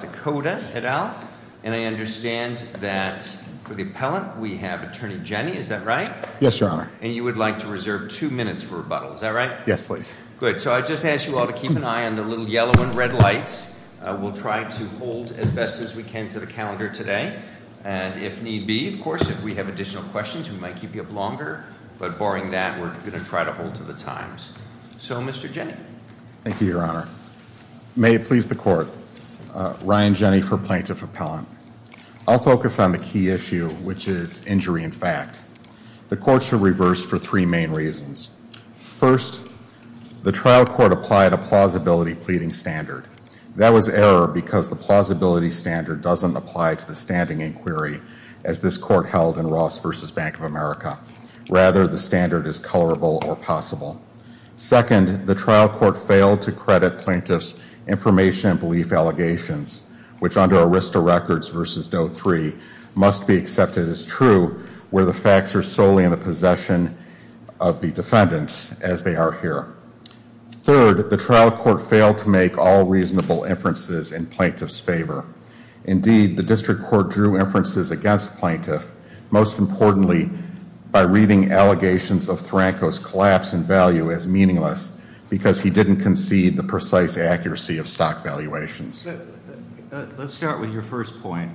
Dakota, et al. And I understand that for the appellant we have Attorney Jenny, is that right? Yes, Your Honor. And you would like to reserve two minutes for rebuttal, is that right? Yes, please. Good. So I just ask you all to keep an eye on the little yellow and red lights. We'll try to hold as best as we can to the calendar today. And if need be, of course, if we have additional questions, we might keep you up longer. But barring that, we're going to try to hold to the times. So, Mr. Jenny. Thank you, Your Honor. May it please the Court. Ryan Jenny for Plaintiff Appellant. I'll focus on the key issue, which is injury in fact. The Court shall reverse for three main reasons. First, the trial court applied a plausibility pleading standard. That was error because the plausibility standard doesn't apply to the standing inquiry as this Court held in Ross v. Bank of America. Rather, the standard is colorable or possible. Second, the trial court failed to credit plaintiff's information and belief allegations, which under Arista Records v. Doe 3, must be accepted as true where the facts are solely in the possession of the defendant, as they are here. Third, the trial court failed to make all reasonable inferences in plaintiff's favor. Indeed, the district court drew inferences against plaintiff, most importantly, by reading allegations of Thranko's collapse in value as meaningless because he didn't concede the precise accuracy of stock valuations. Let's start with your first point.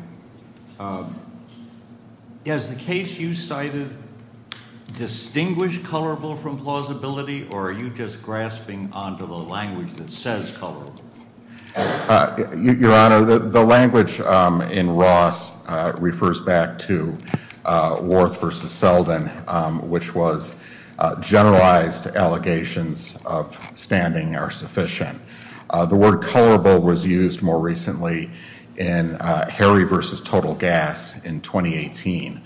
Has the case you cited distinguished colorable from colorable? Your Honor, the language in Ross refers back to Worth v. Selden, which was generalized allegations of standing are sufficient. The word colorable was used more recently in Harry v. Total Gas in 2018.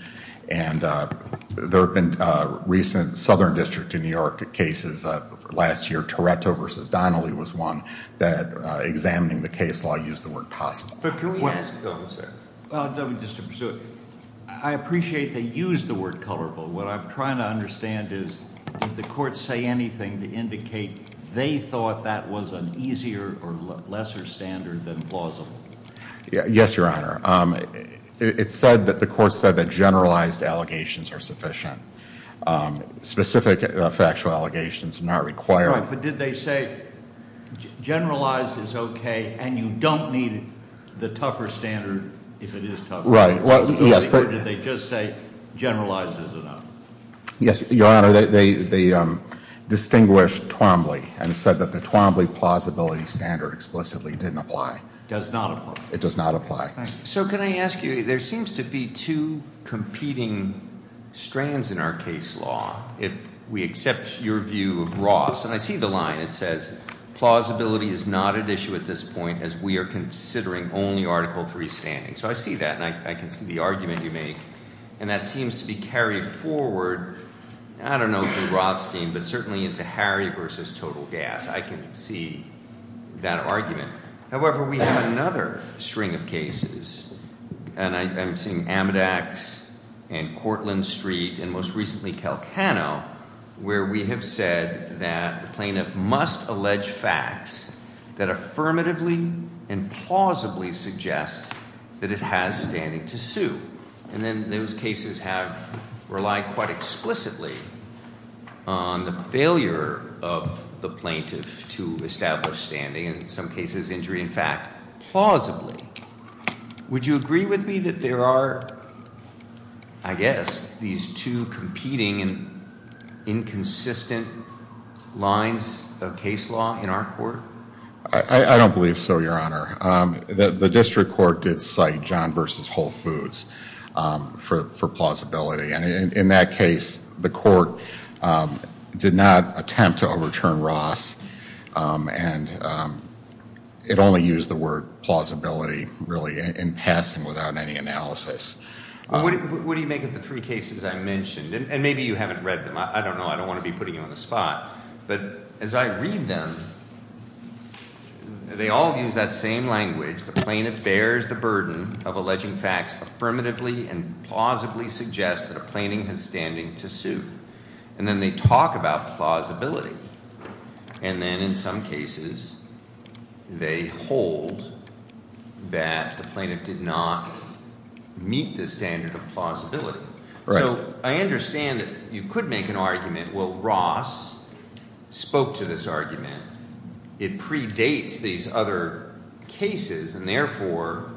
There have been recent Southern District of New York cases. Last year, Toretto v. Donnelly was one that, examining the case law, used the word possible. I appreciate they used the word colorable. What I'm trying to understand is, did the court say anything to indicate they thought that was an easier or lesser standard than plausible? Yes, Your Honor. It's said that the court said that generalized allegations are sufficient. Specific factual allegations are not required. But did they say generalized is okay and you don't need the tougher standard if it is tougher? Right. Or did they just say generalized is enough? Yes, Your Honor. They distinguished Twombly and said that the Twombly plausibility standard explicitly didn't apply. Does not apply. It does not apply. So can I ask you, there seems to be two competing strands in our case law, if we accept your view of Roths. And I see the line. It says, plausibility is not at issue at this point as we are considering only Article III standing. So I see that and I can see the argument you make. And that seems to be carried forward, I don't know, through Rothstein, but certainly into Harry v. Total Gas. I can see that argument. However, we have another string of cases, and I'm seeing Amedax and Cortland Street and most recently Calcano, where we have said that the plaintiff must allege facts that affirmatively and plausibly suggest that it has standing to sue. And then those cases have relied quite explicitly on the failure of the plaintiff to establish standing. In some cases, injury in fact. Plausibly, would you agree with me that there are, I guess, these two competing and inconsistent lines of case law in our court? I don't believe so, Your Honor. The district court did cite John v. Whole Foods for plausibility. And in that case, the court did not attempt to overturn Ross. And it only used the word plausibility, really, in passing without any analysis. What do you make of the three cases I mentioned? And maybe you haven't read them. I don't know. I don't want to be putting you on the spot. But as I read them, they all use that same language. The plaintiff bears the burden of alleging facts affirmatively and plausibly suggest that a plaintiff has standing to sue. And then they talk about plausibility. And then in some cases, they hold that the plaintiff did not meet the standard of plausibility. So I understand that you could make an argument, well, Ross spoke to this argument. It predates these other cases. And therefore,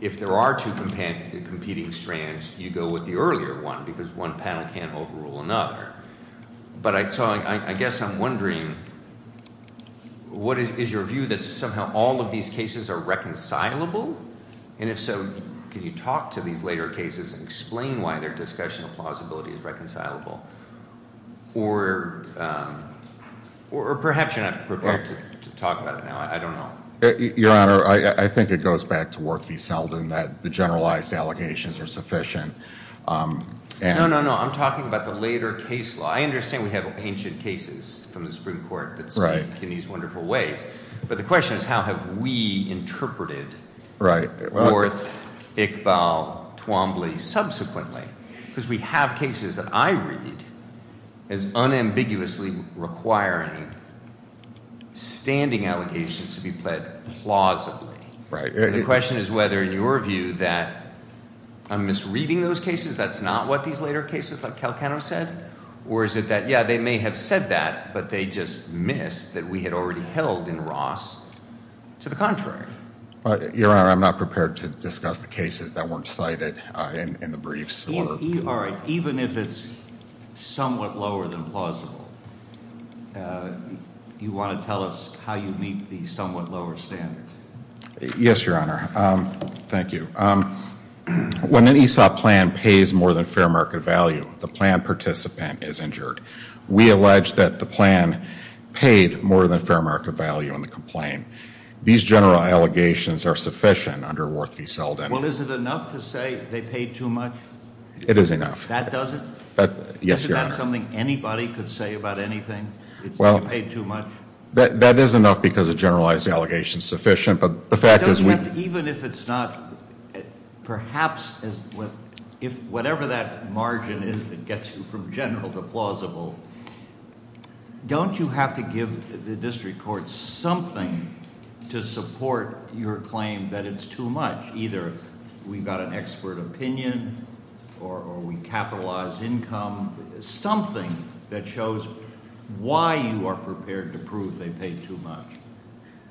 if there are two competing strands, you go with the earlier one because one panel can't overrule another. But I guess I'm wondering, what is your view that somehow all of these cases are reconcilable? And if so, can you talk to these later cases and explain why their discussion of plausibility is reconcilable? Or perhaps you're not prepared to talk about it now. I don't know. Your Honor, I think it goes back to Worth v. Selden that the generalized allegations are sufficient. No, no, no. I'm talking about the later case law. I understand we have ancient cases from the Supreme Court that speak in these wonderful ways. But the question is, how have we as unambiguously requiring standing allegations to be pled plausibly? Right. The question is whether in your view that I'm misreading those cases, that's not what these later cases like Calcano said? Or is it that, yeah, they may have said that, but they just missed that we had already held in Ross. To the contrary. Your Honor, I'm not prepared to discuss the cases that weren't cited in the briefs. All right. Even if it's somewhat lower than plausible, you want to tell us how you meet the somewhat lower standard? Yes, Your Honor. Thank you. When an ESOP plan pays more than fair market value, the plan participant is injured. We allege that the plan paid more than fair market value in the complaint. These general allegations are sufficient under Worth v. Selden. Well, is it enough to say they paid too much? It is enough. That does it? Yes, Your Honor. Isn't that something anybody could say about anything? It's that you paid too much? That is enough because a generalized allegation is sufficient, but the fact is we Don't you have to, even if it's not, perhaps, whatever that margin is that gets you from general to plausible, don't you have to give the district court something to support your claim that it's too much? Either we've got an expert opinion or we capitalize income. Something that shows why you are prepared to prove they paid too much.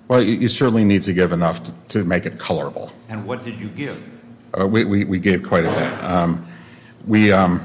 Well, you certainly need to give enough to make it colorable. And what did you give? We gave quite a bit.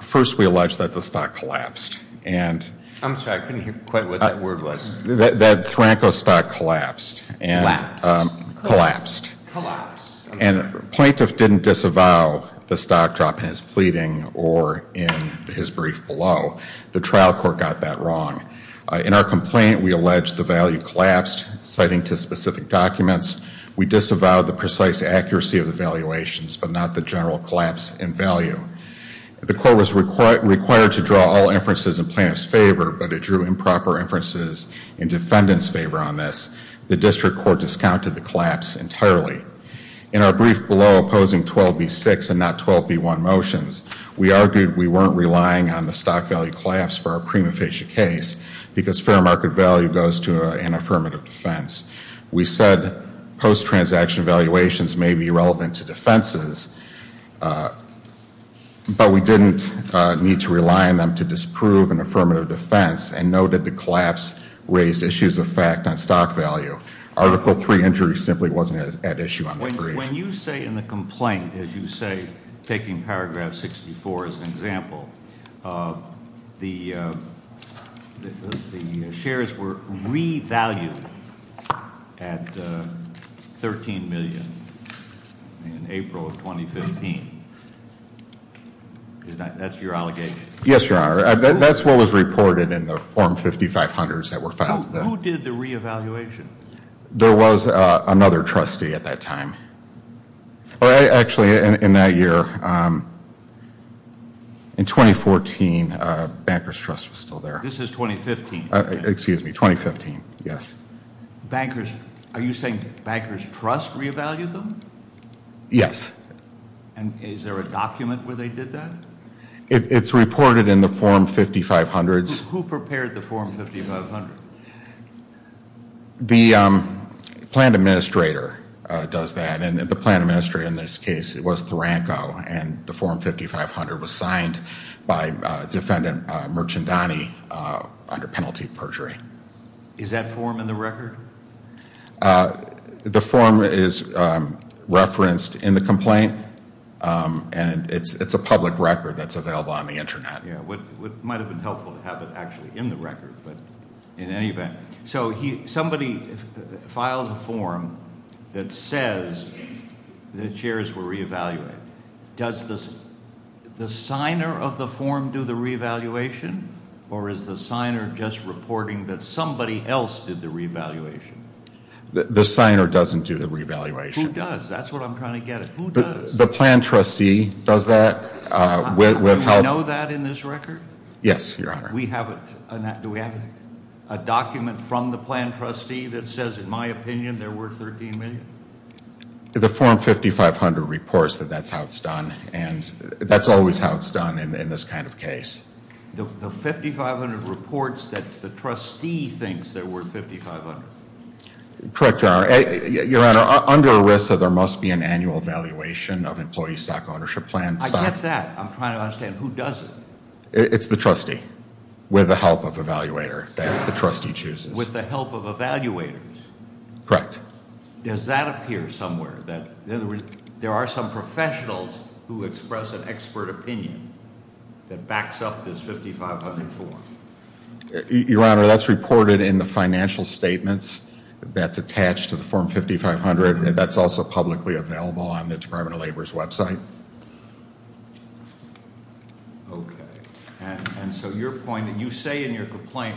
First, we allege that the stock collapsed. I'm sorry. I couldn't hear quite what that word was. That Franco stock collapsed. Collapsed. Collapsed. And plaintiff didn't disavow the stock drop in his pleading or in his brief below. The trial court got that wrong. In our complaint, we allege the value collapsed, citing to specific documents. We disavowed the precise accuracy of the valuations, but not the general collapse in value. The court was required to draw all inferences in plaintiff's favor, but it drew improper inferences in defendant's favor on this. The district court discounted the collapse entirely. In our brief below, opposing 12B6 and not 12B1 motions, we argued we weren't relying on the stock value collapse for our prima facie case because fair market value goes to an affirmative defense. We said post-transaction valuations may be relevant to defenses, but we didn't need to rely on them to disprove an affirmative defense and know that the collapse raised issues of fact on stock value. Article III injuries simply wasn't at issue on the brief. When you say in the complaint, as you say, taking paragraph 64 as an example, the shares were revalued at $13 million in April of 2015. That's your allegation? Yes, Your Honor. That's what was reported in the form 5500s that were filed. Who did the reevaluation? There was another trustee at that time. Actually, in that year, in 2014, Banker's Trust was still there. This is 2015? Excuse me, 2015, yes. Are you saying Banker's Trust reevaluated them? Yes. Is there a document where they did that? It's reported in the form 5500s. Who prepared the form 5500? The plan administrator does that. The plan administrator in this case was Taranko, and the form 5500 was signed by Defendant Merchandani under penalty of perjury. Is that form in the record? The form is referenced in the complaint, and it's a public record that's available on the Internet. It might have been helpful to have it actually in the record, but in any event. So somebody filed a form that says the chairs were reevaluated. Does the signer of the form do the reevaluation, or is the signer just reporting that somebody else did the reevaluation? The signer doesn't do the reevaluation. Who does? That's what I'm trying to get at. Who does? The plan trustee does that. Do we know that in this record? Yes, Your Honor. Do we have a document from the plan trustee that says, in my opinion, they're worth $13 million? The form 5500 reports that that's how it's done, and that's always how it's done in this kind of case. The 5500 reports that the trustee thinks they're worth $5,500. Correct, Your Honor. Your Honor, under ERISA, there must be an annual evaluation of employee stock ownership plans. I get that. I'm trying to understand, who does it? It's the trustee, with the help of evaluator that the trustee chooses. With the help of evaluators? Correct. Does that appear somewhere, that there are some professionals who express an expert opinion that backs up this 5500 form? Your Honor, that's reported in the financial statements that's attached to the form 5500, and that's also publicly available on the Department of Labor's website. Okay. And so you're pointing, you say in your complaint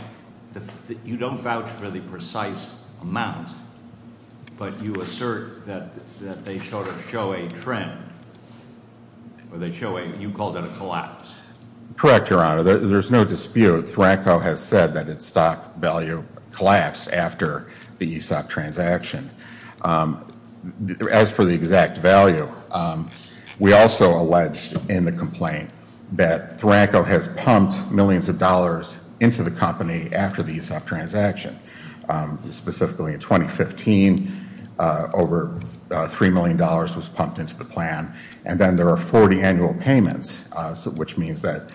that you don't vouch for the precise amount, but you assert that they sort of show a trend, or you called it a collapse. Correct, Your Honor. There's no dispute. THRANCO has said that its stock value collapsed after the ESOP transaction. As for the exact value, we also alleged in the complaint that THRANCO has pumped millions of dollars into the company after the ESOP transaction. Specifically in 2015, over $3 million was pumped into the plan, and then there are 40 annual payments, which means that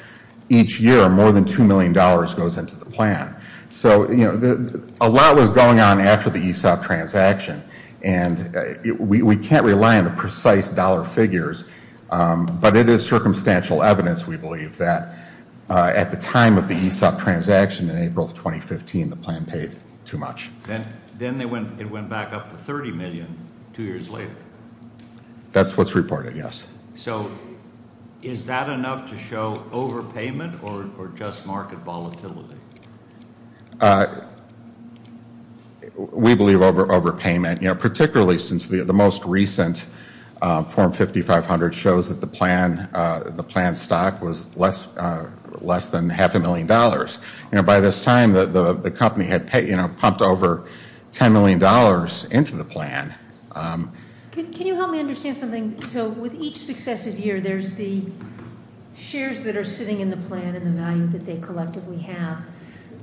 each year, more than $2 million goes into the plan. So a lot was going on after the ESOP transaction, and we can't rely on the precise dollar figures, but it is circumstantial evidence, we believe, that at the time of the ESOP transaction in April of 2015, the plan paid too much. Then it went back up to $30 million two years later. That's what's reported, yes. So is that enough to show overpayment or just market volatility? We believe overpayment, particularly since the most recent Form 5500 shows that the plan stock was less than half a million dollars. By this time, the company had pumped over $10 million into the plan. Can you help me understand something? So with each successive year, there's the shares that are sitting in the plan and the value that they collectively have.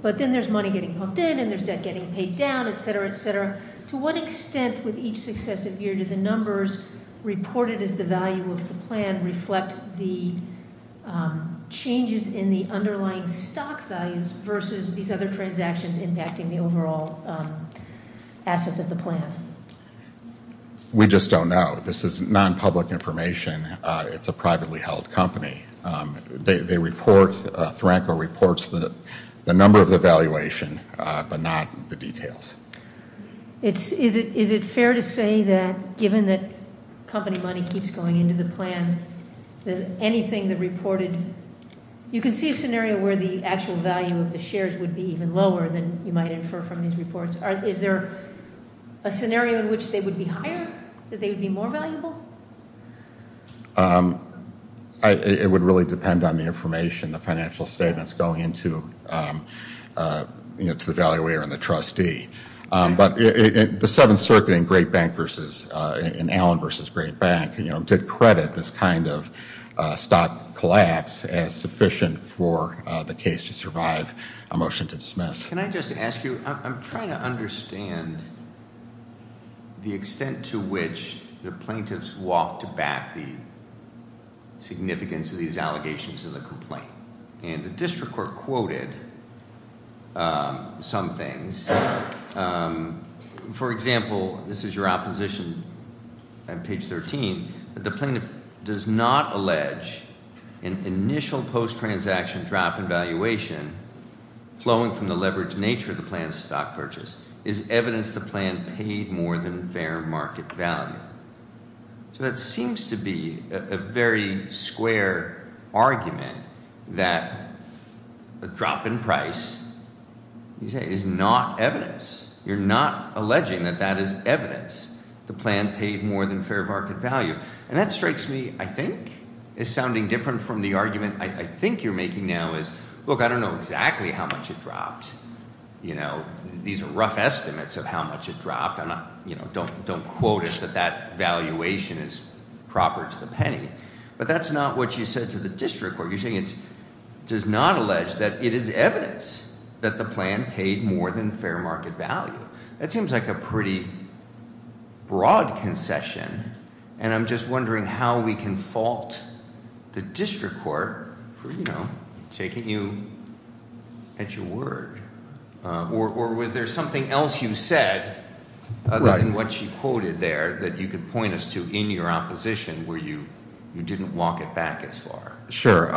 But then there's money getting pumped in, and there's debt getting paid down, etc., etc. To what extent, with each successive year, do the numbers reported as the value of the plan reflect the changes in the underlying stock values versus these other transactions impacting the overall assets of the plan? We just don't know. This is non-public information. It's a privately held company. They report, THRANCO reports, the number of the valuation, but not the details. Is it fair to say that given that company money keeps going into the plan, that anything that reported, you can see a scenario where the actual value of the shares would be even lower than you might infer from these reports. Is there a scenario in which they would be higher, that they would be more valuable? It would really depend on the information, the financial statements going into, you know, to the valuator and the trustee. But the Seventh Circuit in Great Bank versus, in Allen versus Great Bank, you know, did credit this kind of stock collapse as sufficient for the case to survive, a motion to dismiss. Can I just ask you, I'm trying to understand the extent to which the plaintiffs walked back the significance of these allegations in the complaint. And the district court quoted some things. For example, this is your opposition on page 13. The plaintiff does not allege an initial post-transaction drop in valuation flowing from the leverage nature of the plan's stock purchase. Is evidence the plan paid more than fair market value? So that seems to be a very square argument that a drop in price is not evidence. You're not alleging that that is evidence. The plan paid more than fair market value. And that strikes me, I think, as sounding different from the argument I think you're making now is, look, I don't know exactly how much it dropped. You know, these are rough estimates of how much it dropped. You know, don't quote us that that valuation is proper to the penny. But that's not what you said to the district court. You're saying it does not allege that it is evidence that the plan paid more than fair market value. That seems like a pretty broad concession. And I'm just wondering how we can fault the district court for, you know, taking you at your word. Or was there something else you said other than what she quoted there that you could point us to in your opposition where you didn't walk it back as far? Sure.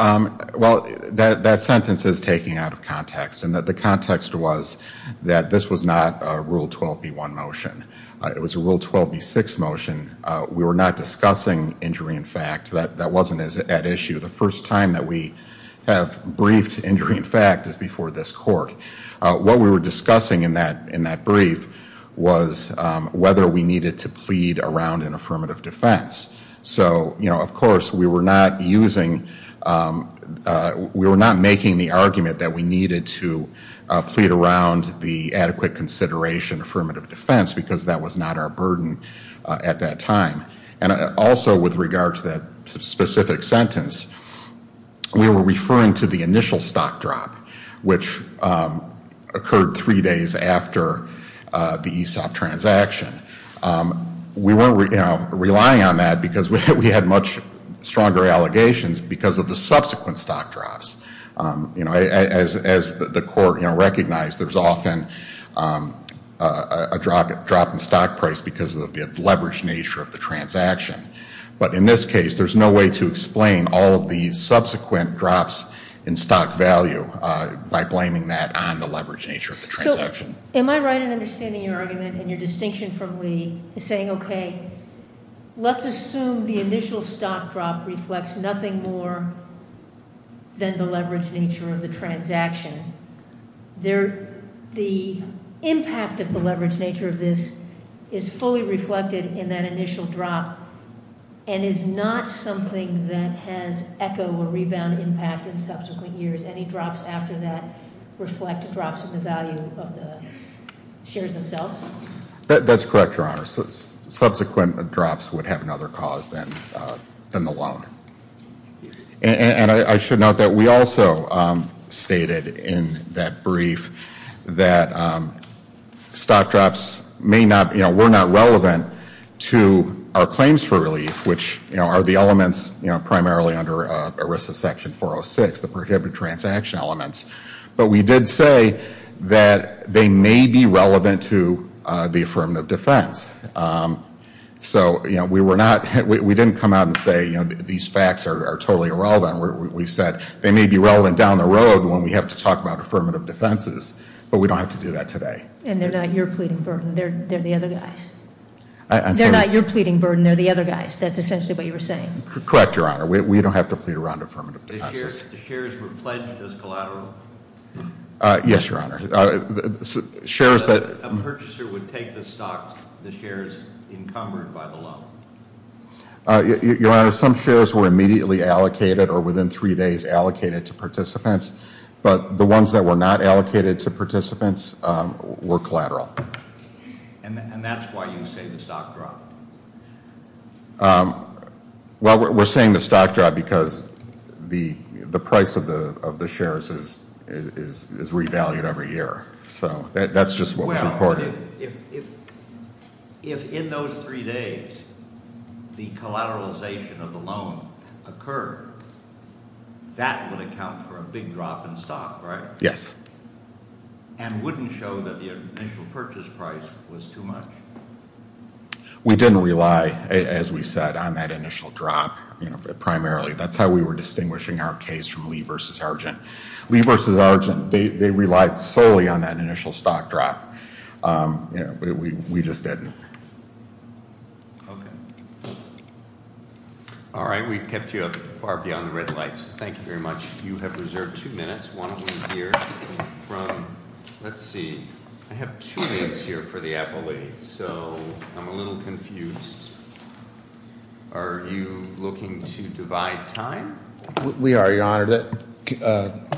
Well, that sentence is taken out of context. And the context was that this was not a Rule 12b-1 motion. It was a Rule 12b-6 motion. We were not discussing injury in fact. That wasn't at issue. The first time that we have briefed injury in fact is before this court. What we were discussing in that brief was whether we needed to plead around an affirmative defense. So, you know, of course we were not using, we were not making the argument that we needed to plead around the adequate consideration affirmative defense because that was not our burden at that time. And also with regard to that specific sentence, we were referring to the initial stock drop which occurred three days after the ESOP transaction. We weren't, you know, relying on that because we had much stronger allegations because of the subsequent stock drops. You know, as the court, you know, recognized there's often a drop in stock price because of the leveraged nature of the transaction. But in this case, there's no way to explain all of the subsequent drops in stock value by blaming that on the leveraged nature of the transaction. Am I right in understanding your argument and your distinction from Lee in saying, okay, let's assume the initial stock drop reflects nothing more than the leveraged nature of the transaction. The impact of the leveraged nature of this is fully reflected in that initial drop and is not something that has echo or rebound impact in subsequent years. Any drops after that reflect drops in the value of the shares themselves? That's correct, Your Honor. Subsequent drops would have another cause than the loan. And I should note that we also stated in that brief that stock drops may not, you know, were not relevant to our claims for relief, which, you know, are the elements, you know, primarily under ERISA section 406, the prohibited transaction elements. But we did say that they may be relevant to the affirmative defense. So, you know, we were not, we didn't come out and say, you know, these facts are totally irrelevant. We said they may be relevant down the road when we have to talk about affirmative defenses. But we don't have to do that today. And they're not your pleading burden. They're the other guy's. They're not your pleading burden. They're the other guy's. That's essentially what you were saying. Correct, Your Honor. We don't have to plead around affirmative defenses. The shares were pledged as collateral? Yes, Your Honor. A purchaser would take the stocks, the shares encumbered by the loan? Your Honor, some shares were immediately allocated or within three days allocated to participants. But the ones that were not allocated to participants were collateral. And that's why you say the stock dropped? Well, we're saying the stock dropped because the price of the shares is revalued every year. So that's just what was reported. Well, if in those three days the collateralization of the loan occurred, that would account for a big drop in stock, right? Yes. And wouldn't show that the initial purchase price was too much? We didn't rely, as we said, on that initial drop primarily. That's how we were distinguishing our case from Lee v. Argent. Lee v. Argent, they relied solely on that initial stock drop. We just didn't. Okay. All right, we've kept you up far beyond the red lights. Thank you very much. You have reserved two minutes. One of them here. Let's see. I have two minutes here for the Appellate, so I'm a little confused. Are you looking to divide time? We are, Your Honor.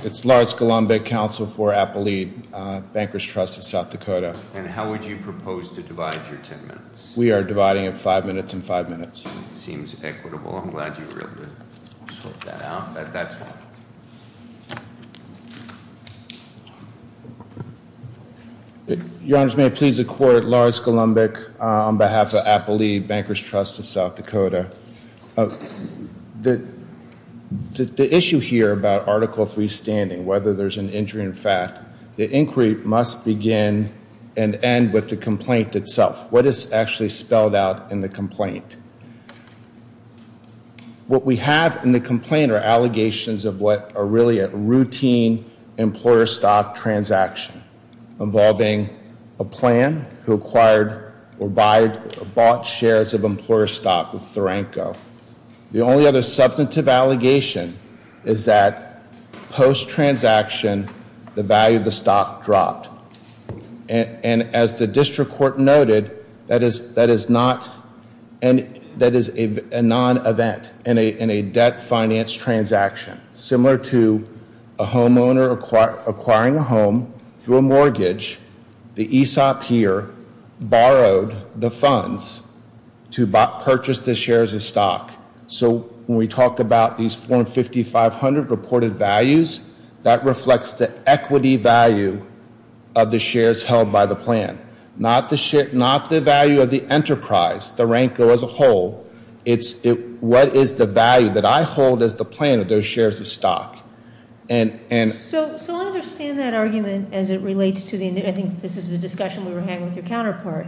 It's Lars Golombek, Counsel for Appellate, Bankers Trust of South Dakota. And how would you propose to divide your ten minutes? We are dividing it five minutes and five minutes. It seems equitable. I'm glad you were able to sort that out. That's fine. Your Honors, may it please the Court, Lars Golombek on behalf of Appellate, Bankers Trust of South Dakota. The issue here about Article III standing, whether there's an injury in fact, the inquiry must begin and end with the complaint itself. What is actually spelled out in the complaint? What we have in the complaint are allegations of what are really a routine employer stock transaction involving a plan who acquired or bought shares of employer stock with Tharenko. The only other substantive allegation is that post-transaction, the value of the stock dropped. And as the district court noted, that is not, that is a non-event in a debt finance transaction. Similar to a homeowner acquiring a home through a mortgage, the ESOP here borrowed the funds to purchase the shares of stock. So when we talk about these form 5500 reported values, that reflects the equity value of the shares held by the plan. Not the value of the enterprise, Tharenko as a whole, it's what is the value that I hold as the plan of those shares of stock. So I understand that argument as it relates to the, I think this is the discussion we were having with your counterpart,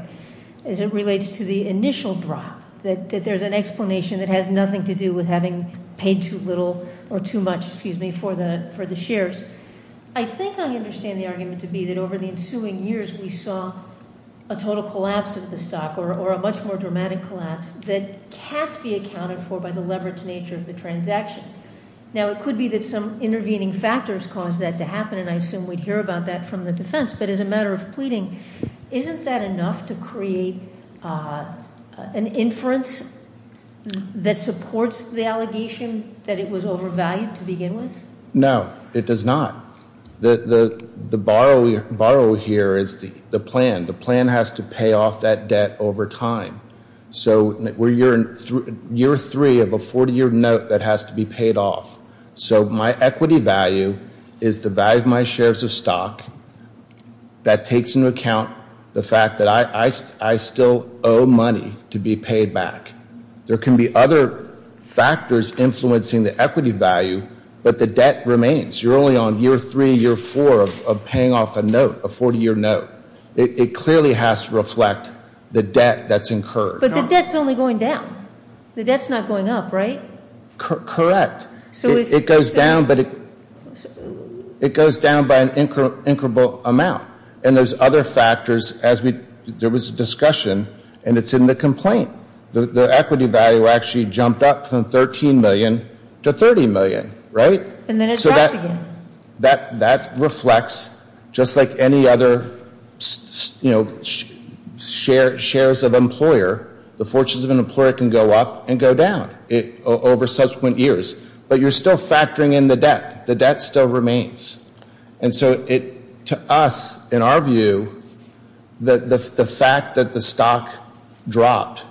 as it relates to the initial drop, that there's an explanation that has nothing to do with having paid too little or too much, excuse me, for the shares. I think I understand the argument to be that over the ensuing years, we saw a total collapse of the stock or a much more dramatic collapse that can't be accounted for by the leverage nature of the transaction. Now it could be that some intervening factors caused that to happen, and I assume we'd hear about that from the defense. But as a matter of pleading, isn't that enough to create an inference that supports the allegation that it was overvalued to begin with? No, it does not. The borrow here is the plan. The plan has to pay off that debt over time. So we're year three of a 40-year note that has to be paid off. So my equity value is the value of my shares of stock. That takes into account the fact that I still owe money to be paid back. There can be other factors influencing the equity value, but the debt remains. You're only on year three, year four of paying off a note, a 40-year note. It clearly has to reflect the debt that's incurred. But the debt's only going down. The debt's not going up, right? Correct. It goes down, but it goes down by an incredible amount. And there's other factors. There was a discussion, and it's in the complaint. The equity value actually jumped up from $13 million to $30 million, right? And then it dropped again. That reflects, just like any other shares of employer, the fortunes of an employer can go up and go down over subsequent years. But you're still factoring in the debt. The debt still remains. And so to us, in our view, the fact that the stock dropped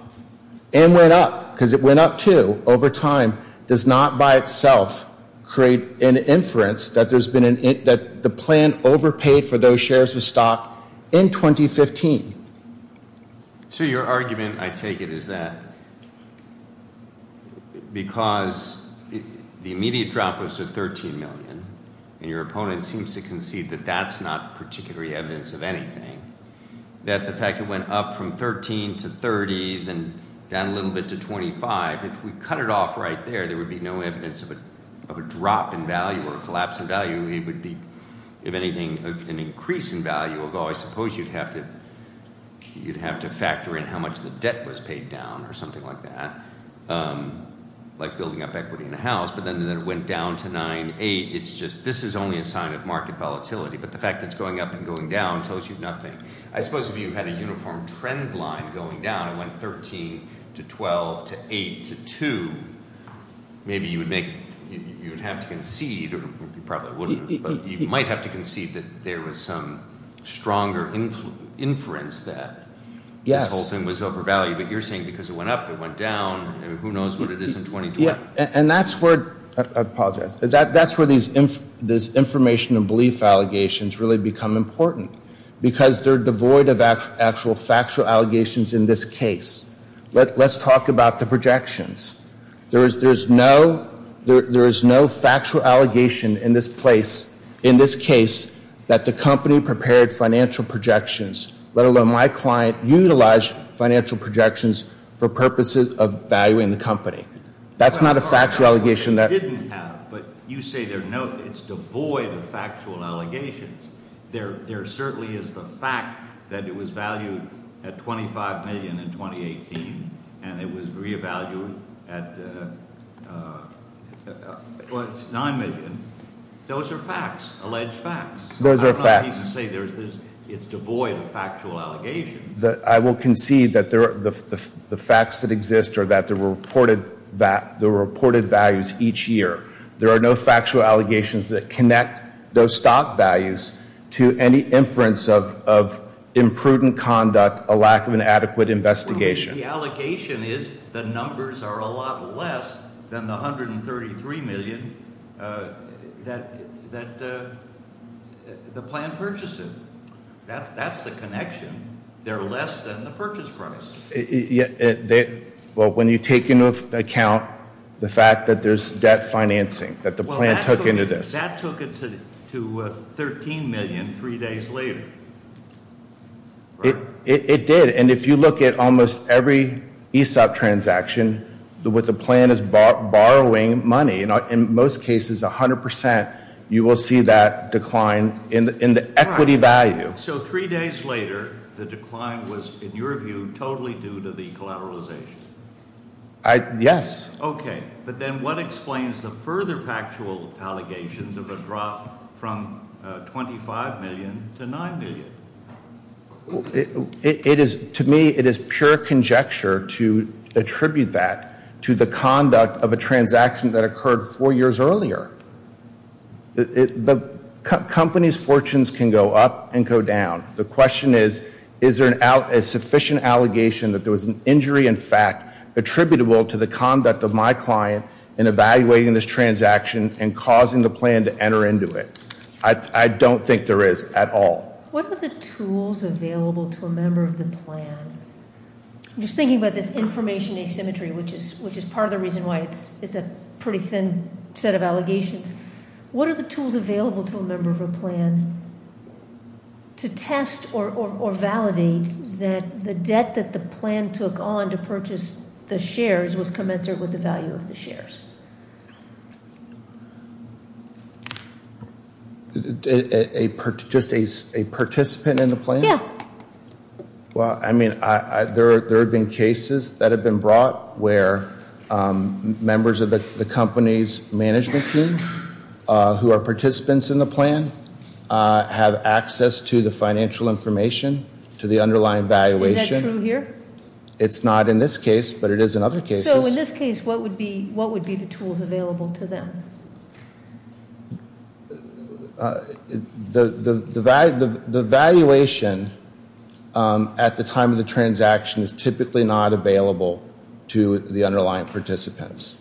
and went up, because it went up, too, over time, does not by itself create an inference that the plan overpaid for those shares of stock in 2015. So your argument, I take it, is that because the immediate drop was to $13 million, and your opponent seems to concede that that's not particularly evidence of anything, that the fact it went up from $13 to $30, then down a little bit to $25, if we cut it off right there, there would be no evidence of a drop in value or a collapse in value. It would be, if anything, an increase in value. I suppose you'd have to factor in how much the debt was paid down or something like that, like building up equity in a house. But then it went down to $9.8. It's just this is only a sign of market volatility. But the fact that it's going up and going down tells you nothing. I suppose if you had a uniform trend line going down, it went $13 to $12 to $8 to $2, maybe you would have to concede, or you probably wouldn't, but you might have to concede that there was some stronger inference that this whole thing was overvalued. But you're saying because it went up, it went down, and who knows what it is in 2020. I apologize. That's where these information and belief allegations really become important because they're devoid of actual factual allegations in this case. Let's talk about the projections. There is no factual allegation in this case that the company prepared financial projections, let alone my client utilized financial projections for purposes of valuing the company. That's not a factual allegation. But you say it's devoid of factual allegations. There certainly is the fact that it was valued at $25 million in 2018, and it was revalued at $9 million. Those are facts, alleged facts. Those are facts. It's devoid of factual allegations. I will concede that the facts that exist are that there were reported values each year. There are no factual allegations that connect those stock values to any inference of imprudent conduct, a lack of an adequate investigation. The allegation is the numbers are a lot less than the $133 million that the plan purchased it. That's the connection. They're less than the purchase price. When you take into account the fact that there's debt financing that the plan took into this. That took it to $13 million three days later. It did. And if you look at almost every ESOP transaction, what the plan is borrowing money. In most cases, 100%, you will see that decline in the equity value. So three days later, the decline was, in your view, totally due to the collateralization? Yes. Okay. But then what explains the further factual allegations of a drop from $25 million to $9 million? To me, it is pure conjecture to attribute that to the conduct of a transaction that occurred four years earlier. Companies' fortunes can go up and go down. The question is, is there a sufficient allegation that there was an injury in fact attributable to the conduct of my client in evaluating this transaction and causing the plan to enter into it? I don't think there is at all. What are the tools available to a member of the plan? I'm just thinking about this information asymmetry, which is part of the reason why it's a pretty thin set of allegations. What are the tools available to a member of a plan to test or validate that the debt that the plan took on to purchase the shares was commensurate with the value of the shares? Just a participant in the plan? Yeah. Well, I mean, there have been cases that have been brought where members of the company's management team who are participants in the plan have access to the financial information, to the underlying valuation. Is that true here? It's not in this case, but it is in other cases. So, in this case, what would be useful? What would be the tools available to them? The valuation at the time of the transaction is typically not available to the underlying participants.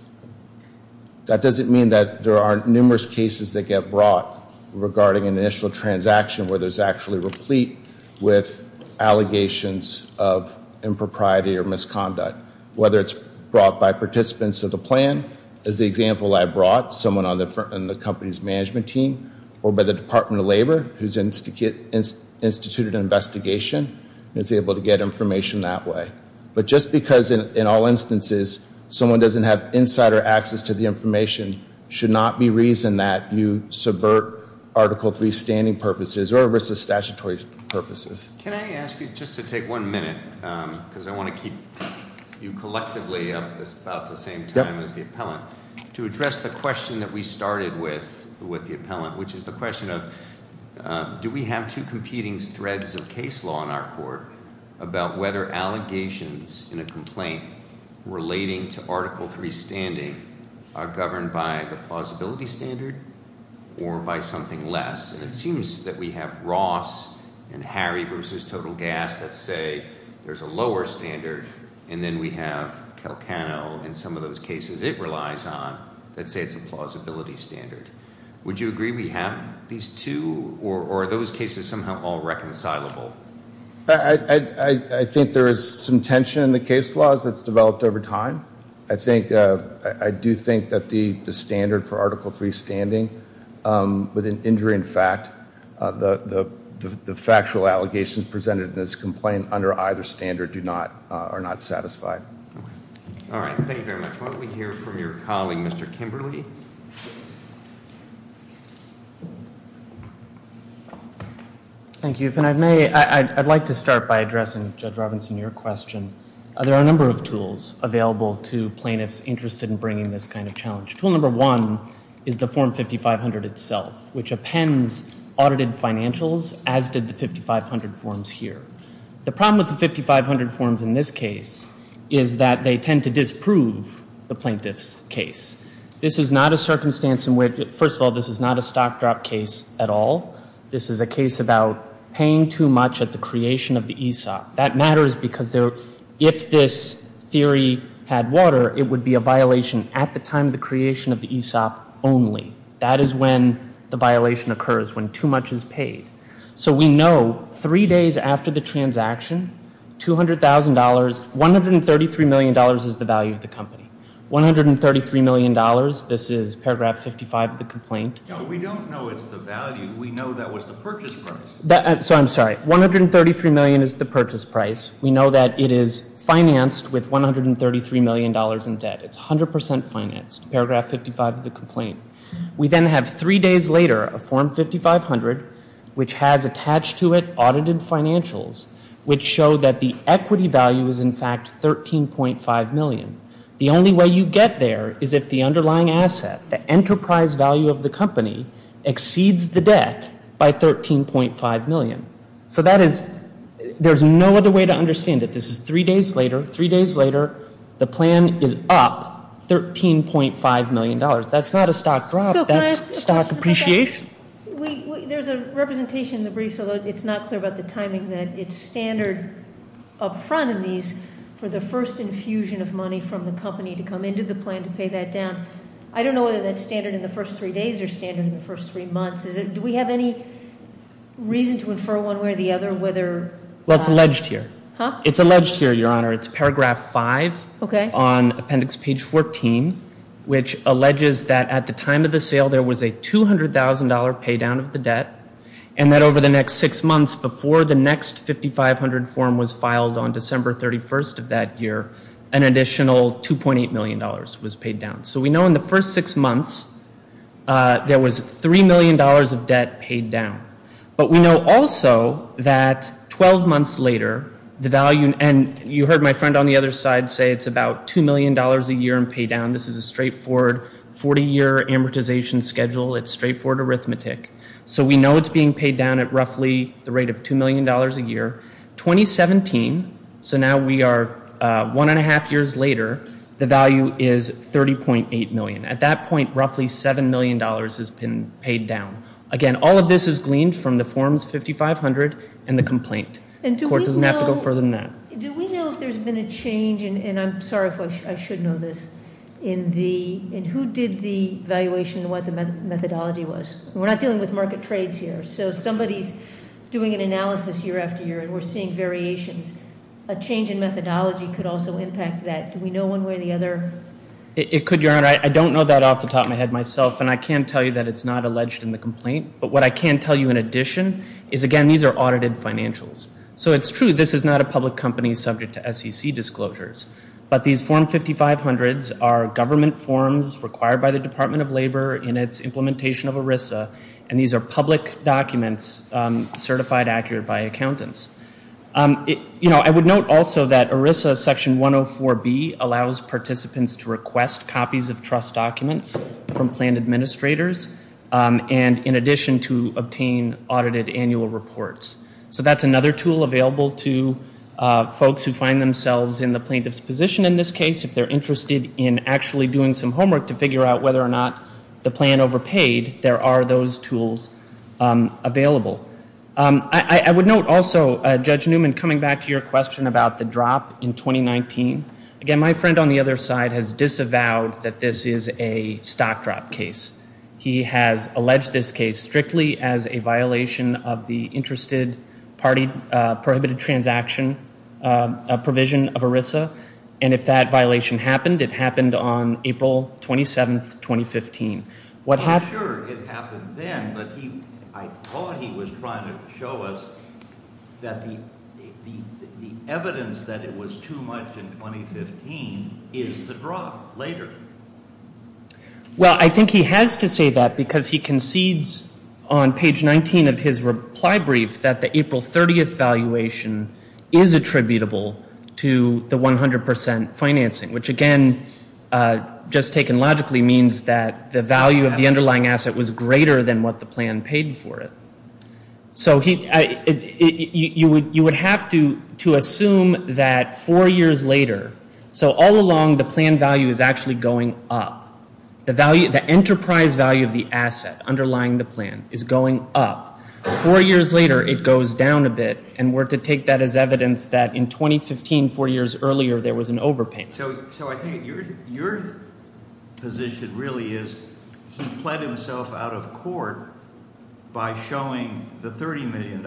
That doesn't mean that there aren't numerous cases that get brought regarding an initial transaction where there's actually replete with allegations of impropriety or misconduct, whether it's brought by participants of the plan, as the example I brought, someone on the company's management team, or by the Department of Labor, who's instituted an investigation and is able to get information that way. But just because, in all instances, someone doesn't have insider access to the information should not be reason that you subvert Article III standing purposes or versus statutory purposes. Can I ask you, just to take one minute, because I want to keep you collectively up at about the same time as the appellant, to address the question that we started with with the appellant, which is the question of, do we have two competing threads of case law in our court about whether allegations in a complaint relating to Article III standing are governed by the plausibility standard or by something less? And it seems that we have Ross and Harry versus Total Gas that say there's a lower standard, and then we have Calcano and some of those cases it relies on that say it's a plausibility standard. Would you agree we have these two, or are those cases somehow all reconcilable? I think there is some tension in the case laws that's developed over time. I do think that the standard for Article III standing, with an injury in fact, the factual allegations presented in this complaint under either standard are not satisfied. All right. Thank you very much. Why don't we hear from your colleague, Mr. Kimberly. Thank you. If I may, I'd like to start by addressing, Judge Robinson, your question. There are a number of tools available to plaintiffs interested in bringing this kind of challenge. Tool number one is the Form 5500 itself, which appends audited financials, as did the 5500 forms here. The problem with the 5500 forms in this case is that they tend to disprove the plaintiff's case. This is not a circumstance in which, first of all, this is not a stock drop case at all. This is a case about paying too much at the creation of the ESOP. That matters because if this theory had water, it would be a violation at the time of the creation of the ESOP only. That is when the violation occurs, when too much is paid. So we know three days after the transaction, $200,000, $133 million is the value of the company. $133 million, this is paragraph 55 of the complaint. No, we don't know it's the value. We know that was the purchase price. So I'm sorry, $133 million is the purchase price. We know that it is financed with $133 million in debt. It's 100% financed, paragraph 55 of the complaint. We then have three days later a Form 5500, which has attached to it audited financials, which show that the equity value is in fact $13.5 million. The only way you get there is if the underlying asset, the enterprise value of the company, exceeds the debt by $13.5 million. So that is, there's no other way to understand it. This is three days later, three days later, the plan is up $13.5 million. That's not a stock drop. That's stock appreciation. There's a representation in the brief, so it's not clear about the timing, that it's standard up front in these for the first infusion of money from the company to come into the plan to pay that down. I don't know whether that's standard in the first three days or standard in the first three months. Do we have any reason to infer one way or the other whether? Well, it's alleged here. It's alleged here, Your Honor. It's paragraph five on appendix page 14, which alleges that at the time of the sale, there was a $200,000 pay down of the debt and that over the next six months, before the next 5500 form was filed on December 31st of that year, an additional $2.8 million was paid down. So we know in the first six months, there was $3 million of debt paid down. But we know also that 12 months later, the value, and you heard my friend on the other side say it's about $2 million a year in pay down. This is a straightforward 40-year amortization schedule. It's straightforward arithmetic. So we know it's being paid down at roughly the rate of $2 million a year. 2017, so now we are one and a half years later, the value is $30.8 million. At that point, roughly $7 million has been paid down. Again, all of this is gleaned from the forms 5500 and the complaint. The court doesn't have to go further than that. Do we know if there's been a change, and I'm sorry if I should know this, in who did the evaluation and what the methodology was? We're not dealing with market trades here. So if somebody's doing an analysis year after year and we're seeing variations, a change in methodology could also impact that. Do we know one way or the other? It could, Your Honor. I don't know that off the top of my head myself, and I can tell you that it's not alleged in the complaint, but what I can tell you in addition is, again, these are audited financials. So it's true this is not a public company subject to SEC disclosures, but these form 5500s are government forms required by the Department of Labor in its implementation of ERISA, and these are public documents certified accurate by accountants. I would note also that ERISA Section 104B allows participants to request copies of trust documents from plan administrators, and in addition to obtain audited annual reports. So that's another tool available to folks who find themselves in the plaintiff's position in this case. If they're interested in actually doing some homework to figure out whether or not the plan overpaid, there are those tools available. I would note also, Judge Newman, coming back to your question about the drop in 2019, again, my friend on the other side has disavowed that this is a stock drop case. He has alleged this case strictly as a violation of the Interested Party Prohibited Transaction provision of ERISA, and if that violation happened, it happened on April 27, 2015. I'm sure it happened then, but I thought he was trying to show us that the evidence that it was too much in 2015 is the drop later. Well, I think he has to say that because he concedes on page 19 of his reply brief that the April 30th valuation is attributable to the 100 percent financing, which again, just taken logically, means that the value of the underlying asset was greater than what the plan paid for it. So you would have to assume that four years later, so all along the plan value is actually going up. The enterprise value of the asset underlying the plan is going up. Four years later, it goes down a bit, and we're to take that as evidence that in 2015, four years earlier, there was an overpayment. So I think your position really is he pled himself out of court by showing the $30 million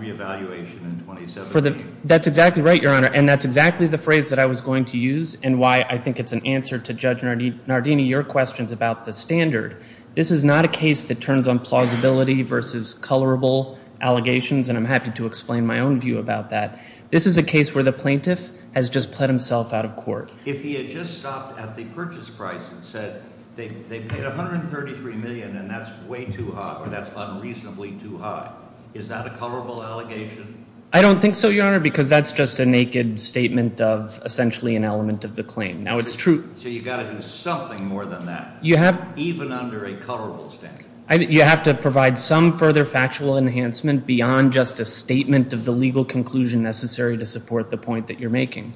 re-evaluation in 2017. That's exactly right, Your Honor, and that's exactly the phrase that I was going to use and why I think it's an answer to Judge Nardini. Your question is about the standard. This is not a case that turns on plausibility versus colorable allegations, and I'm happy to explain my own view about that. This is a case where the plaintiff has just pled himself out of court. If he had just stopped at the purchase price and said they paid $133 million and that's way too high or that's unreasonably too high, is that a colorable allegation? I don't think so, Your Honor, because that's just a naked statement of essentially an element of the claim. So you've got to do something more than that, even under a colorable standard. You have to provide some further factual enhancement beyond just a statement of the legal conclusion necessary to support the point that you're making.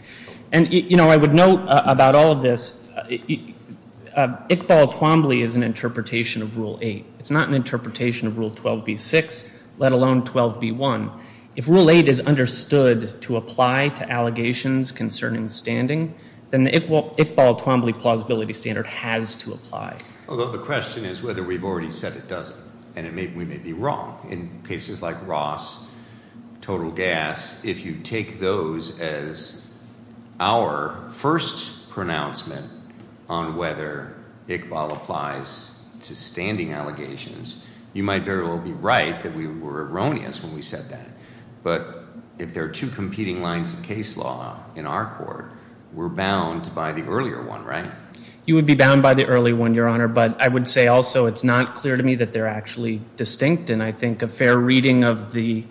And I would note about all of this, Iqbal Twombly is an interpretation of Rule 8. It's not an interpretation of Rule 12b-6, let alone 12b-1. If Rule 8 is understood to apply to allegations concerning standing, then the Iqbal Twombly plausibility standard has to apply. Although the question is whether we've already said it doesn't, and we may be wrong. In cases like Ross, total gas, if you take those as our first pronouncement on whether Iqbal applies to standing allegations, you might very well be right that we were erroneous when we said that. But if there are two competing lines of case law in our court, we're bound by the earlier one, right? You would be bound by the earlier one, Your Honor. But I would say also it's not clear to me that they're actually distinct. And I think a fair reading of the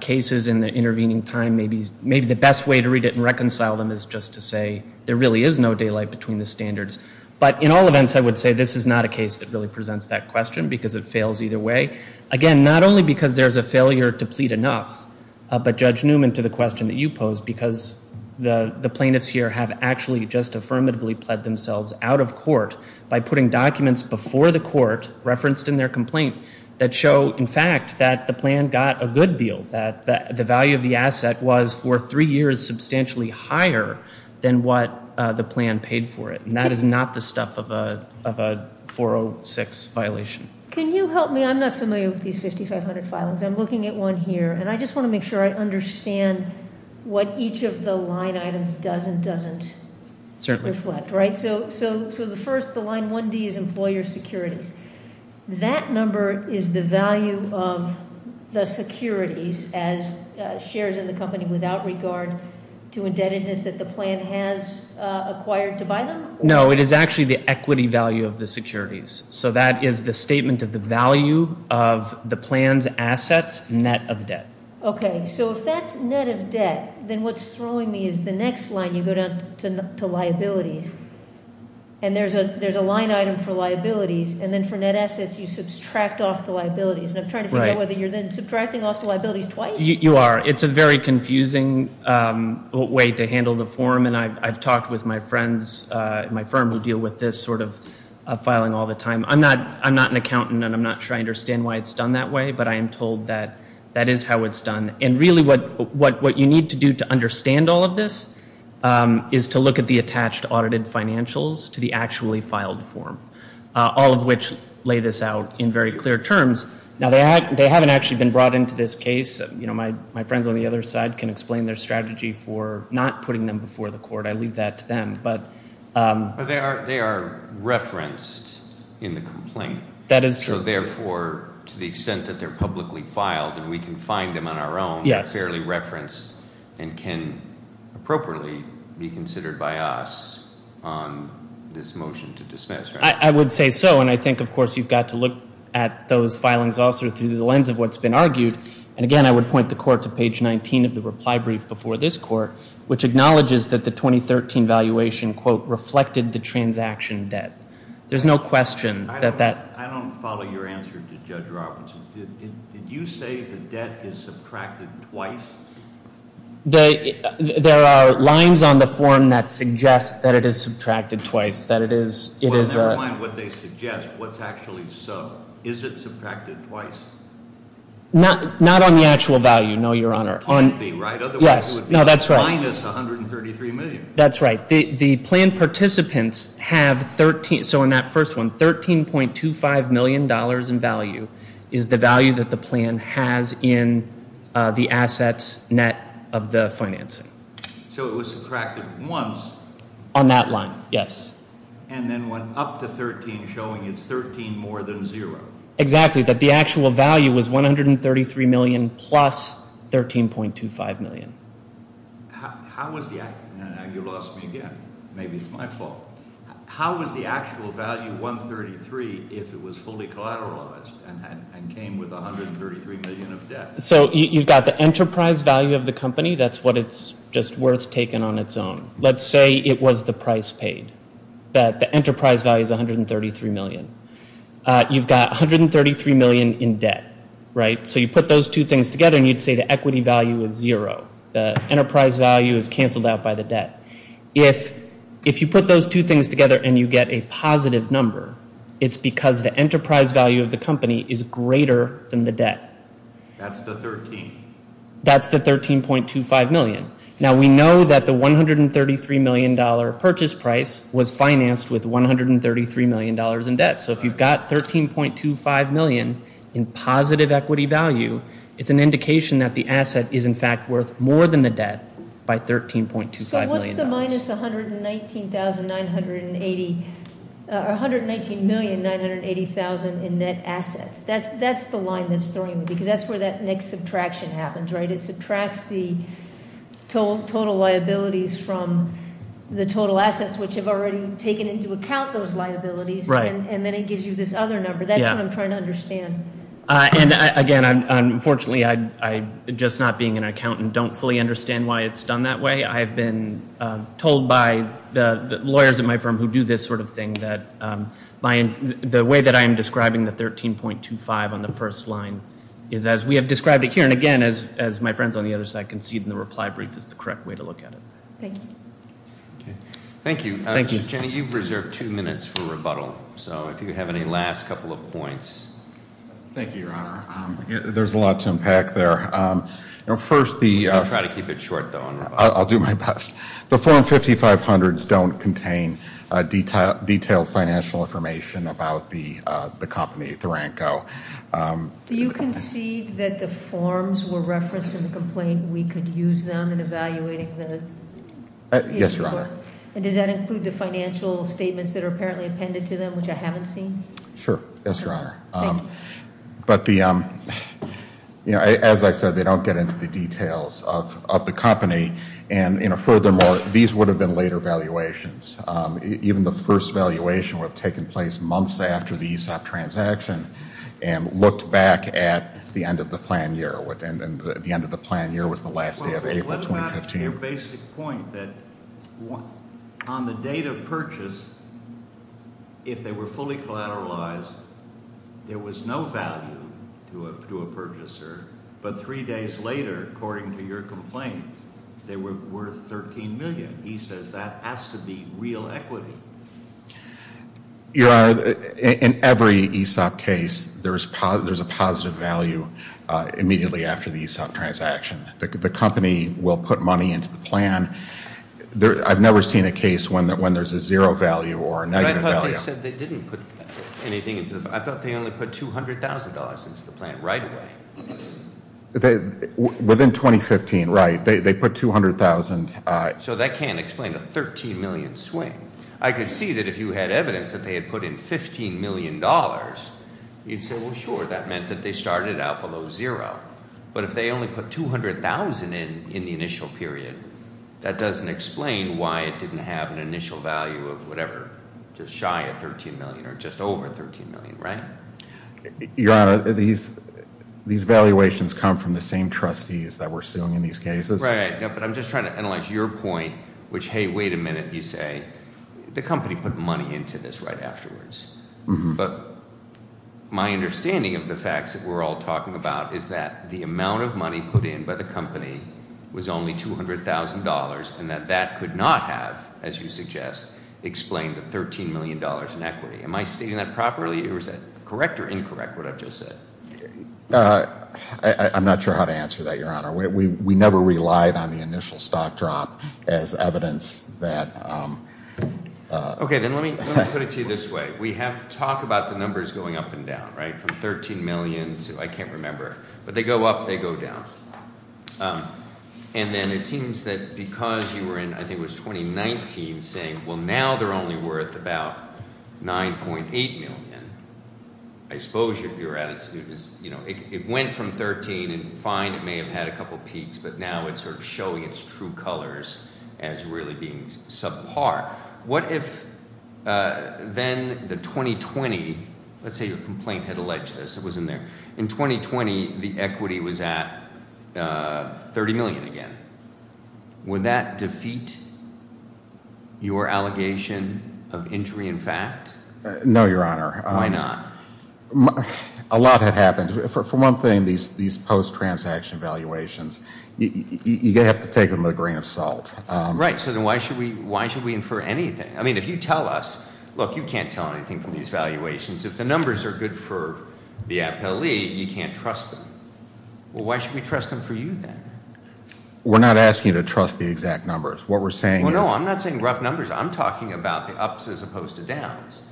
cases in the intervening time, maybe the best way to read it and reconcile them is just to say there really is no daylight between the standards. But in all events, I would say this is not a case that really presents that question because it fails either way. Again, not only because there's a failure to plead enough, but Judge Newman, to the question that you posed, because the plaintiffs here have actually just affirmatively pled themselves out of court by putting documents before the court referenced in their complaint that show, in fact, that the plan got a good deal, that the value of the asset was for three years substantially higher than what the plan paid for it. And that is not the stuff of a 406 violation. Can you help me? I'm not familiar with these 5,500 filings. I'm looking at one here, and I just want to make sure I understand what each of the line items does and doesn't reflect. Certainly. Right? So the first, the line 1D, is employer securities. That number is the value of the securities as shares in the company without regard to indebtedness that the plan has acquired to buy them? No, it is actually the equity value of the securities. So that is the statement of the value of the plan's assets net of debt. Okay. So if that's net of debt, then what's throwing me is the next line, you go down to liabilities, and there's a line item for liabilities, and then for net assets, you subtract off the liabilities. And I'm trying to figure out whether you're then subtracting off the liabilities twice. You are. It's a very confusing way to handle the form, and I've talked with my friends in my firm who deal with this sort of filing all the time. I'm not an accountant, and I'm not sure I understand why it's done that way, but I am told that that is how it's done. And really what you need to do to understand all of this is to look at the attached audited financials to the actually filed form, all of which lay this out in very clear terms. Now, they haven't actually been brought into this case. My friends on the other side can explain their strategy for not putting them before the court. I leave that to them. But they are referenced in the complaint. That is true. So therefore, to the extent that they're publicly filed and we can find them on our own, they're fairly referenced and can appropriately be considered by us on this motion to dismiss, right? I would say so, and I think, of course, you've got to look at those filings also through the lens of what's been argued. And, again, I would point the court to page 19 of the reply brief before this court, which acknowledges that the 2013 valuation, quote, reflected the transaction debt. There's no question that that. I don't follow your answer to Judge Robertson. Did you say the debt is subtracted twice? There are lines on the form that suggest that it is subtracted twice, that it is. Well, never mind what they suggest. What's actually so? Is it subtracted twice? Not on the actual value, no, Your Honor. It can't be, right? Otherwise it would be minus $133 million. That's right. The plan participants have 13. So in that first one, $13.25 million in value is the value that the plan has in the assets net of the financing. So it was subtracted once. On that line, yes. And then went up to 13, showing it's 13 more than zero. Exactly, that the actual value was $133 million plus $13.25 million. How was the actual value, and you lost me again. Maybe it's my fault. How was the actual value, 133, if it was fully collateralized and came with $133 million of debt? So you've got the enterprise value of the company. That's what it's just worth taking on its own. Let's say it was the price paid, that the enterprise value is $133 million. You've got $133 million in debt, right? So you put those two things together and you'd say the equity value is zero. The enterprise value is canceled out by the debt. If you put those two things together and you get a positive number, it's because the enterprise value of the company is greater than the debt. That's the 13. That's the 13.25 million. Now we know that the $133 million purchase price was financed with $133 million in debt. So if you've got 13.25 million in positive equity value, it's an indication that the asset is in fact worth more than the debt by 13.25 million dollars. So what's the minus 119,980, or 119,980,000 in net assets? That's the line that's throwing me, because that's where that next subtraction happens, right? It subtracts the total liabilities from the total assets, which have already taken into account those liabilities. Right. And then it gives you this other number. That's what I'm trying to understand. And again, unfortunately, just not being an accountant, I don't fully understand why it's done that way. I've been told by the lawyers at my firm who do this sort of thing that the way that I am describing the 13.25 on the first line is as we have described it here. And again, as my friends on the other side concede, the reply brief is the correct way to look at it. Thank you. Thank you. Jenny, you've reserved two minutes for rebuttal. So if you have any last couple of points. Thank you, Your Honor. There's a lot to unpack there. I'll try to keep it short, though. I'll do my best. The Form 5500s don't contain detailed financial information about the company, Theranco. Do you concede that the forms were referenced in the complaint and we could use them in evaluating the case report? Yes, Your Honor. And does that include the financial statements that are apparently appended to them, which I haven't seen? Sure. Yes, Your Honor. Thank you. But as I said, they don't get into the details of the company. And furthermore, these would have been later valuations. Even the first valuation would have taken place months after the ESOP transaction and looked back at the end of the plan year. And the end of the plan year was the last day of April 2015. What about your basic point that on the date of purchase, if they were fully collateralized, there was no value to a purchaser. But three days later, according to your complaint, they were worth $13 million. He says that has to be real equity. Your Honor, in every ESOP case, there's a positive value immediately after the ESOP transaction. The company will put money into the plan. I've never seen a case when there's a zero value or a negative value. But I thought they said they didn't put anything into the plan. I thought they only put $200,000 into the plan right away. Within 2015, right. They put $200,000. So that can't explain a $13 million swing. I could see that if you had evidence that they had put in $15 million, you'd say, well, sure, that meant that they started out below zero. But if they only put $200,000 in in the initial period, that doesn't explain why it didn't have an initial value of whatever, just shy of $13 million or just over $13 million, right? Your Honor, these valuations come from the same trustees that we're suing in these cases. Right, but I'm just trying to analyze your point, which, hey, wait a minute, you say the company put money into this right afterwards. But my understanding of the facts that we're all talking about is that the amount of money put in by the company was only $200,000 and that that could not have, as you suggest, explained the $13 million in equity. Am I stating that properly or is that correct or incorrect, what I've just said? I'm not sure how to answer that, Your Honor. We never relied on the initial stock drop as evidence that. Okay, then let me put it to you this way. We have talked about the numbers going up and down, right, from $13 million to, I can't remember. But they go up, they go down. And then it seems that because you were in, I think it was 2019, saying, well, now they're only worth about $9.8 million. I suppose your attitude is, you know, it went from $13 and fine, it may have had a couple peaks, but now it's sort of showing its true colors as really being subpar. What if then the 2020, let's say your complaint had alleged this, it wasn't there. In 2020, the equity was at $30 million again. Would that defeat your allegation of injury in fact? No, Your Honor. Why not? A lot had happened. For one thing, these post-transaction valuations, you have to take them with a grain of salt. Right. So then why should we infer anything? I mean, if you tell us, look, you can't tell anything from these valuations. If the numbers are good for the appellee, you can't trust them. Well, why should we trust them for you then? We're not asking you to trust the exact numbers. What we're saying is. Well, no, I'm not saying rough numbers. I'm talking about the ups as opposed to downs.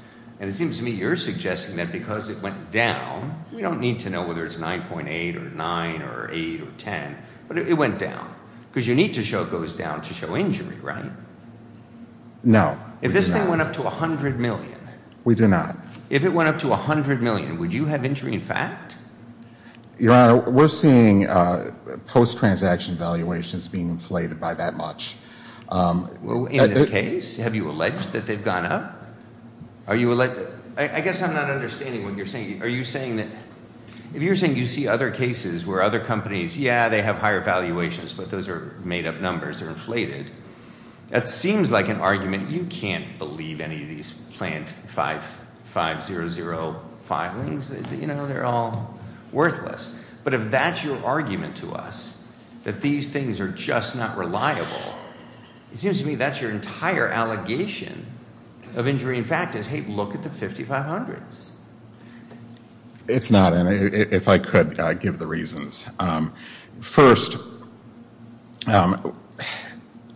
And it seems to me you're suggesting that because it went down, we don't need to know whether it's 9.8 or 9 or 8 or 10, but it went down. Because you need to show it goes down to show injury, right? No. If this thing went up to $100 million. We do not. If it went up to $100 million, would you have injury in fact? Your Honor, we're seeing post-transaction valuations being inflated by that much. In this case? Have you alleged that they've gone up? Are you alleged? I guess I'm not understanding what you're saying. Are you saying that if you're saying you see other cases where other companies. Yeah, they have higher valuations, but those are made up numbers. They're inflated. That seems like an argument. You can't believe any of these plan 5500 filings. You know, they're all worthless. But if that's your argument to us, that these things are just not reliable, it seems to me that's your entire allegation of injury in fact is, hey, look at the 5500s. It's not, and if I could, I'd give the reasons. First,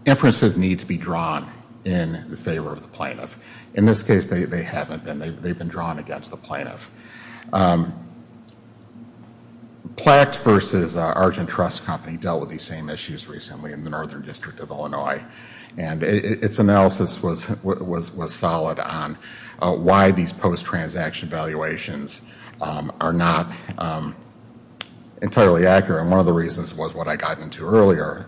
inferences need to be drawn in favor of the plaintiff. In this case, they haven't been. They've been drawn against the plaintiff. Platt versus Argent Trust Company dealt with these same issues recently in the Northern District of Illinois. And its analysis was solid on why these post-transaction valuations are not entirely accurate. And one of the reasons was what I got into earlier,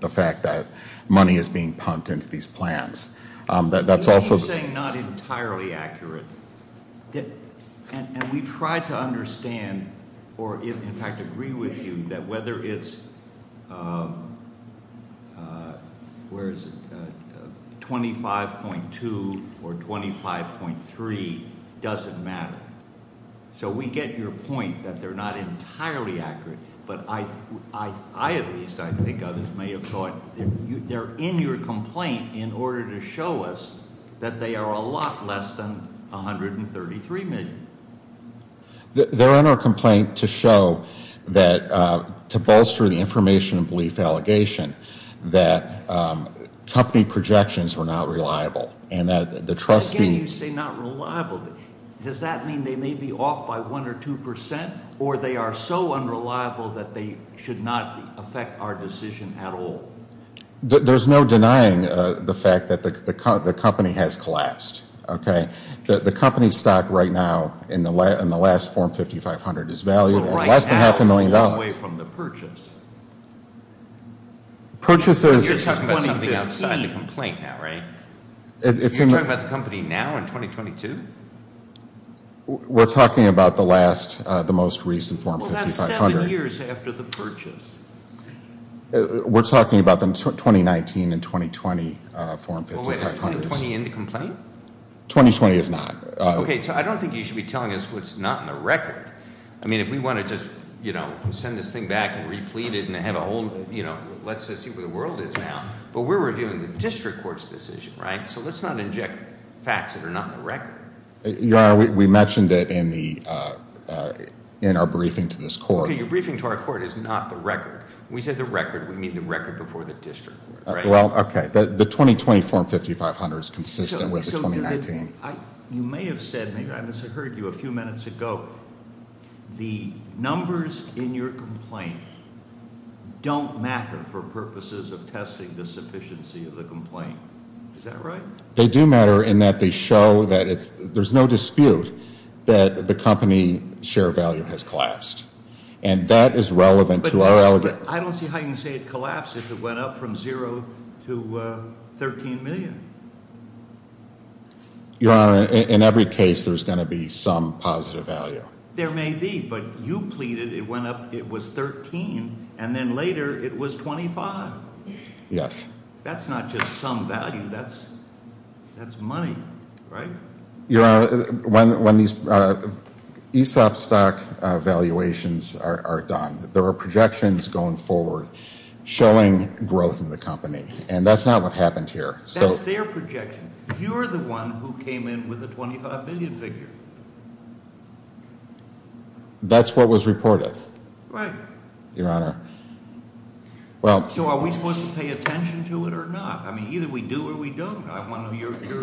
the fact that money is being pumped into these plans. That's also- You're saying not entirely accurate. And we try to understand or in fact agree with you that whether it's, where is it, 25.2 or 25.3 doesn't matter. So we get your point that they're not entirely accurate. But I at least, I think others may have thought, they're in your complaint in order to show us that they are a lot less than 133 million. They're in our complaint to show that, to bolster the information and belief allegation, that company projections were not reliable. And that the trustee- Again, you say not reliable. Does that mean they may be off by one or two percent? Or they are so unreliable that they should not affect our decision at all? There's no denying the fact that the company has collapsed. Okay? The company stock right now in the last form 5500 is valued at less than half a million dollars. Right now, away from the purchase. Purchases- You're talking about something outside the complaint now, right? You're talking about the company now in 2022? We're talking about the last, the most recent form 5500. Well, that's seven years after the purchase. We're talking about the 2019 and 2020 form 5500s. Well, wait, is 2020 in the complaint? 2020 is not. Okay, so I don't think you should be telling us what's not in the record. I mean, if we want to just, you know, send this thing back and replete it and have a whole, you know, let's just see where the world is now. But we're reviewing the district court's decision, right? So let's not inject facts that are not in the record. Your Honor, we mentioned it in our briefing to this court. Okay, your briefing to our court is not the record. When we say the record, we mean the record before the district court, right? Well, okay. The 2020 form 5500 is consistent with 2019. You may have said, maybe I misheard you a few minutes ago. The numbers in your complaint don't matter for purposes of testing the sufficiency of the complaint. Is that right? They do matter in that they show that there's no dispute that the company share value has collapsed. And that is relevant to our allegation. I don't see how you can say it collapsed if it went up from zero to 13 million. Your Honor, in every case there's going to be some positive value. There may be, but you pleaded it went up, it was 13, and then later it was 25. Yes. That's not just some value, that's money, right? Your Honor, when these ESOP stock valuations are done, there are projections going forward showing growth in the company. And that's not what happened here. That's their projection. You're the one who came in with a 25 million figure. That's what was reported. Right. Your Honor. So are we supposed to pay attention to it or not? I mean, either we do or we don't. I want to know your view.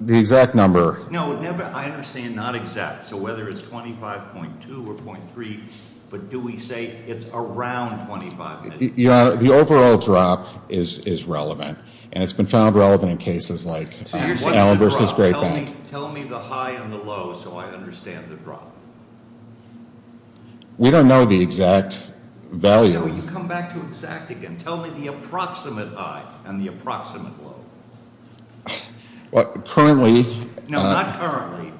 The exact number. No, I understand not exact. So whether it's 25.2 or .3, but do we say it's around 25 million? Your Honor, the overall drop is relevant. And it's been found relevant in cases like Allen versus Great Bank. Tell me the high and the low so I understand the drop. We don't know the exact value. No, you come back to exact again. Tell me the approximate high and the approximate low. Currently. No, not currently.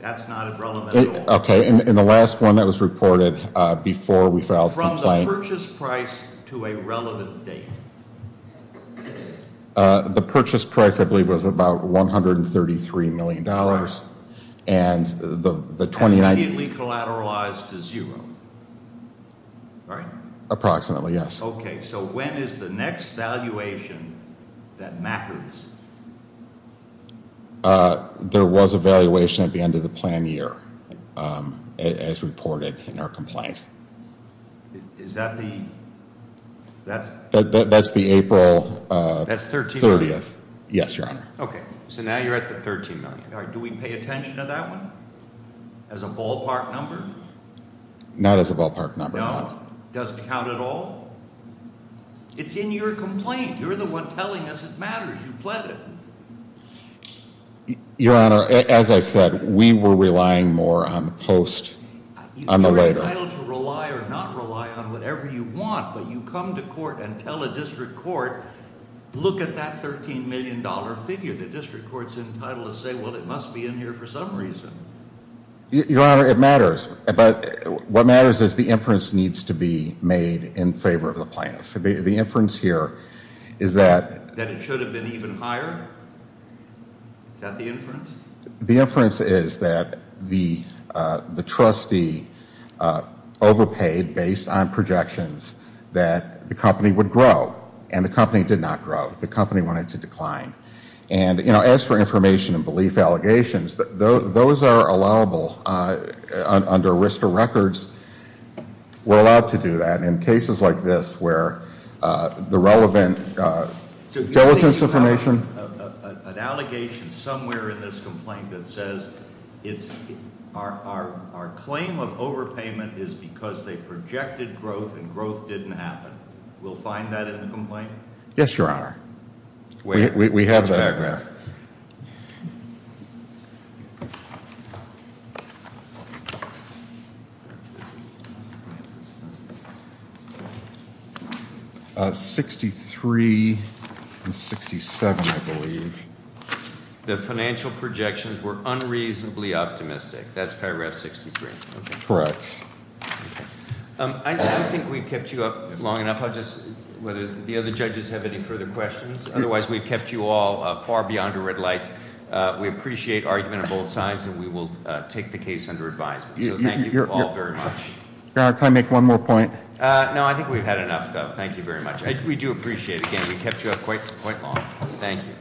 That's not relevant at all. Okay, and the last one that was reported before we filed a complaint. From the purchase price to a relevant date. The purchase price, I believe, was about $133 million. And immediately collateralized to zero. Right? Approximately, yes. Okay, so when is the next valuation that matters? There was a valuation at the end of the plan year. As reported in our complaint. Is that the? That's the April 30th. Yes, Your Honor. Okay, so now you're at the $13 million. Do we pay attention to that one? As a ballpark number? Not as a ballpark number. No, it doesn't count at all? It's in your complaint. You're the one telling us it matters. You pled it. Your Honor, as I said, we were relying more on the post on the letter. You're entitled to rely or not rely on whatever you want. But you come to court and tell a district court, look at that $13 million figure. The district court's entitled to say, well, it must be in here for some reason. Your Honor, it matters. But what matters is the inference needs to be made in favor of the plaintiff. The inference here is that. That it should have been even higher? Is that the inference? The inference is that the trustee overpaid based on projections that the company would grow. And the company did not grow. The company wanted to decline. And, you know, as for information and belief allegations, those are allowable under ARISTA records. We're allowed to do that. In cases like this where the relevant diligence information. An allegation somewhere in this complaint that says our claim of overpayment is because they projected growth and growth didn't happen. We'll find that in the complaint? Yes, Your Honor. We have that. 63 and 67, I believe. The financial projections were unreasonably optimistic. That's paragraph 63. Correct. I don't think we've kept you up long enough. I'll just whether the other judges have any further questions. Otherwise, we've kept you all far beyond a red light. We appreciate argument on both sides and we will take the case under advisement. Thank you all very much. Your Honor, can I make one more point? No, I think we've had enough, though. Thank you very much. We do appreciate it. Again, we kept you up quite long. Thank you.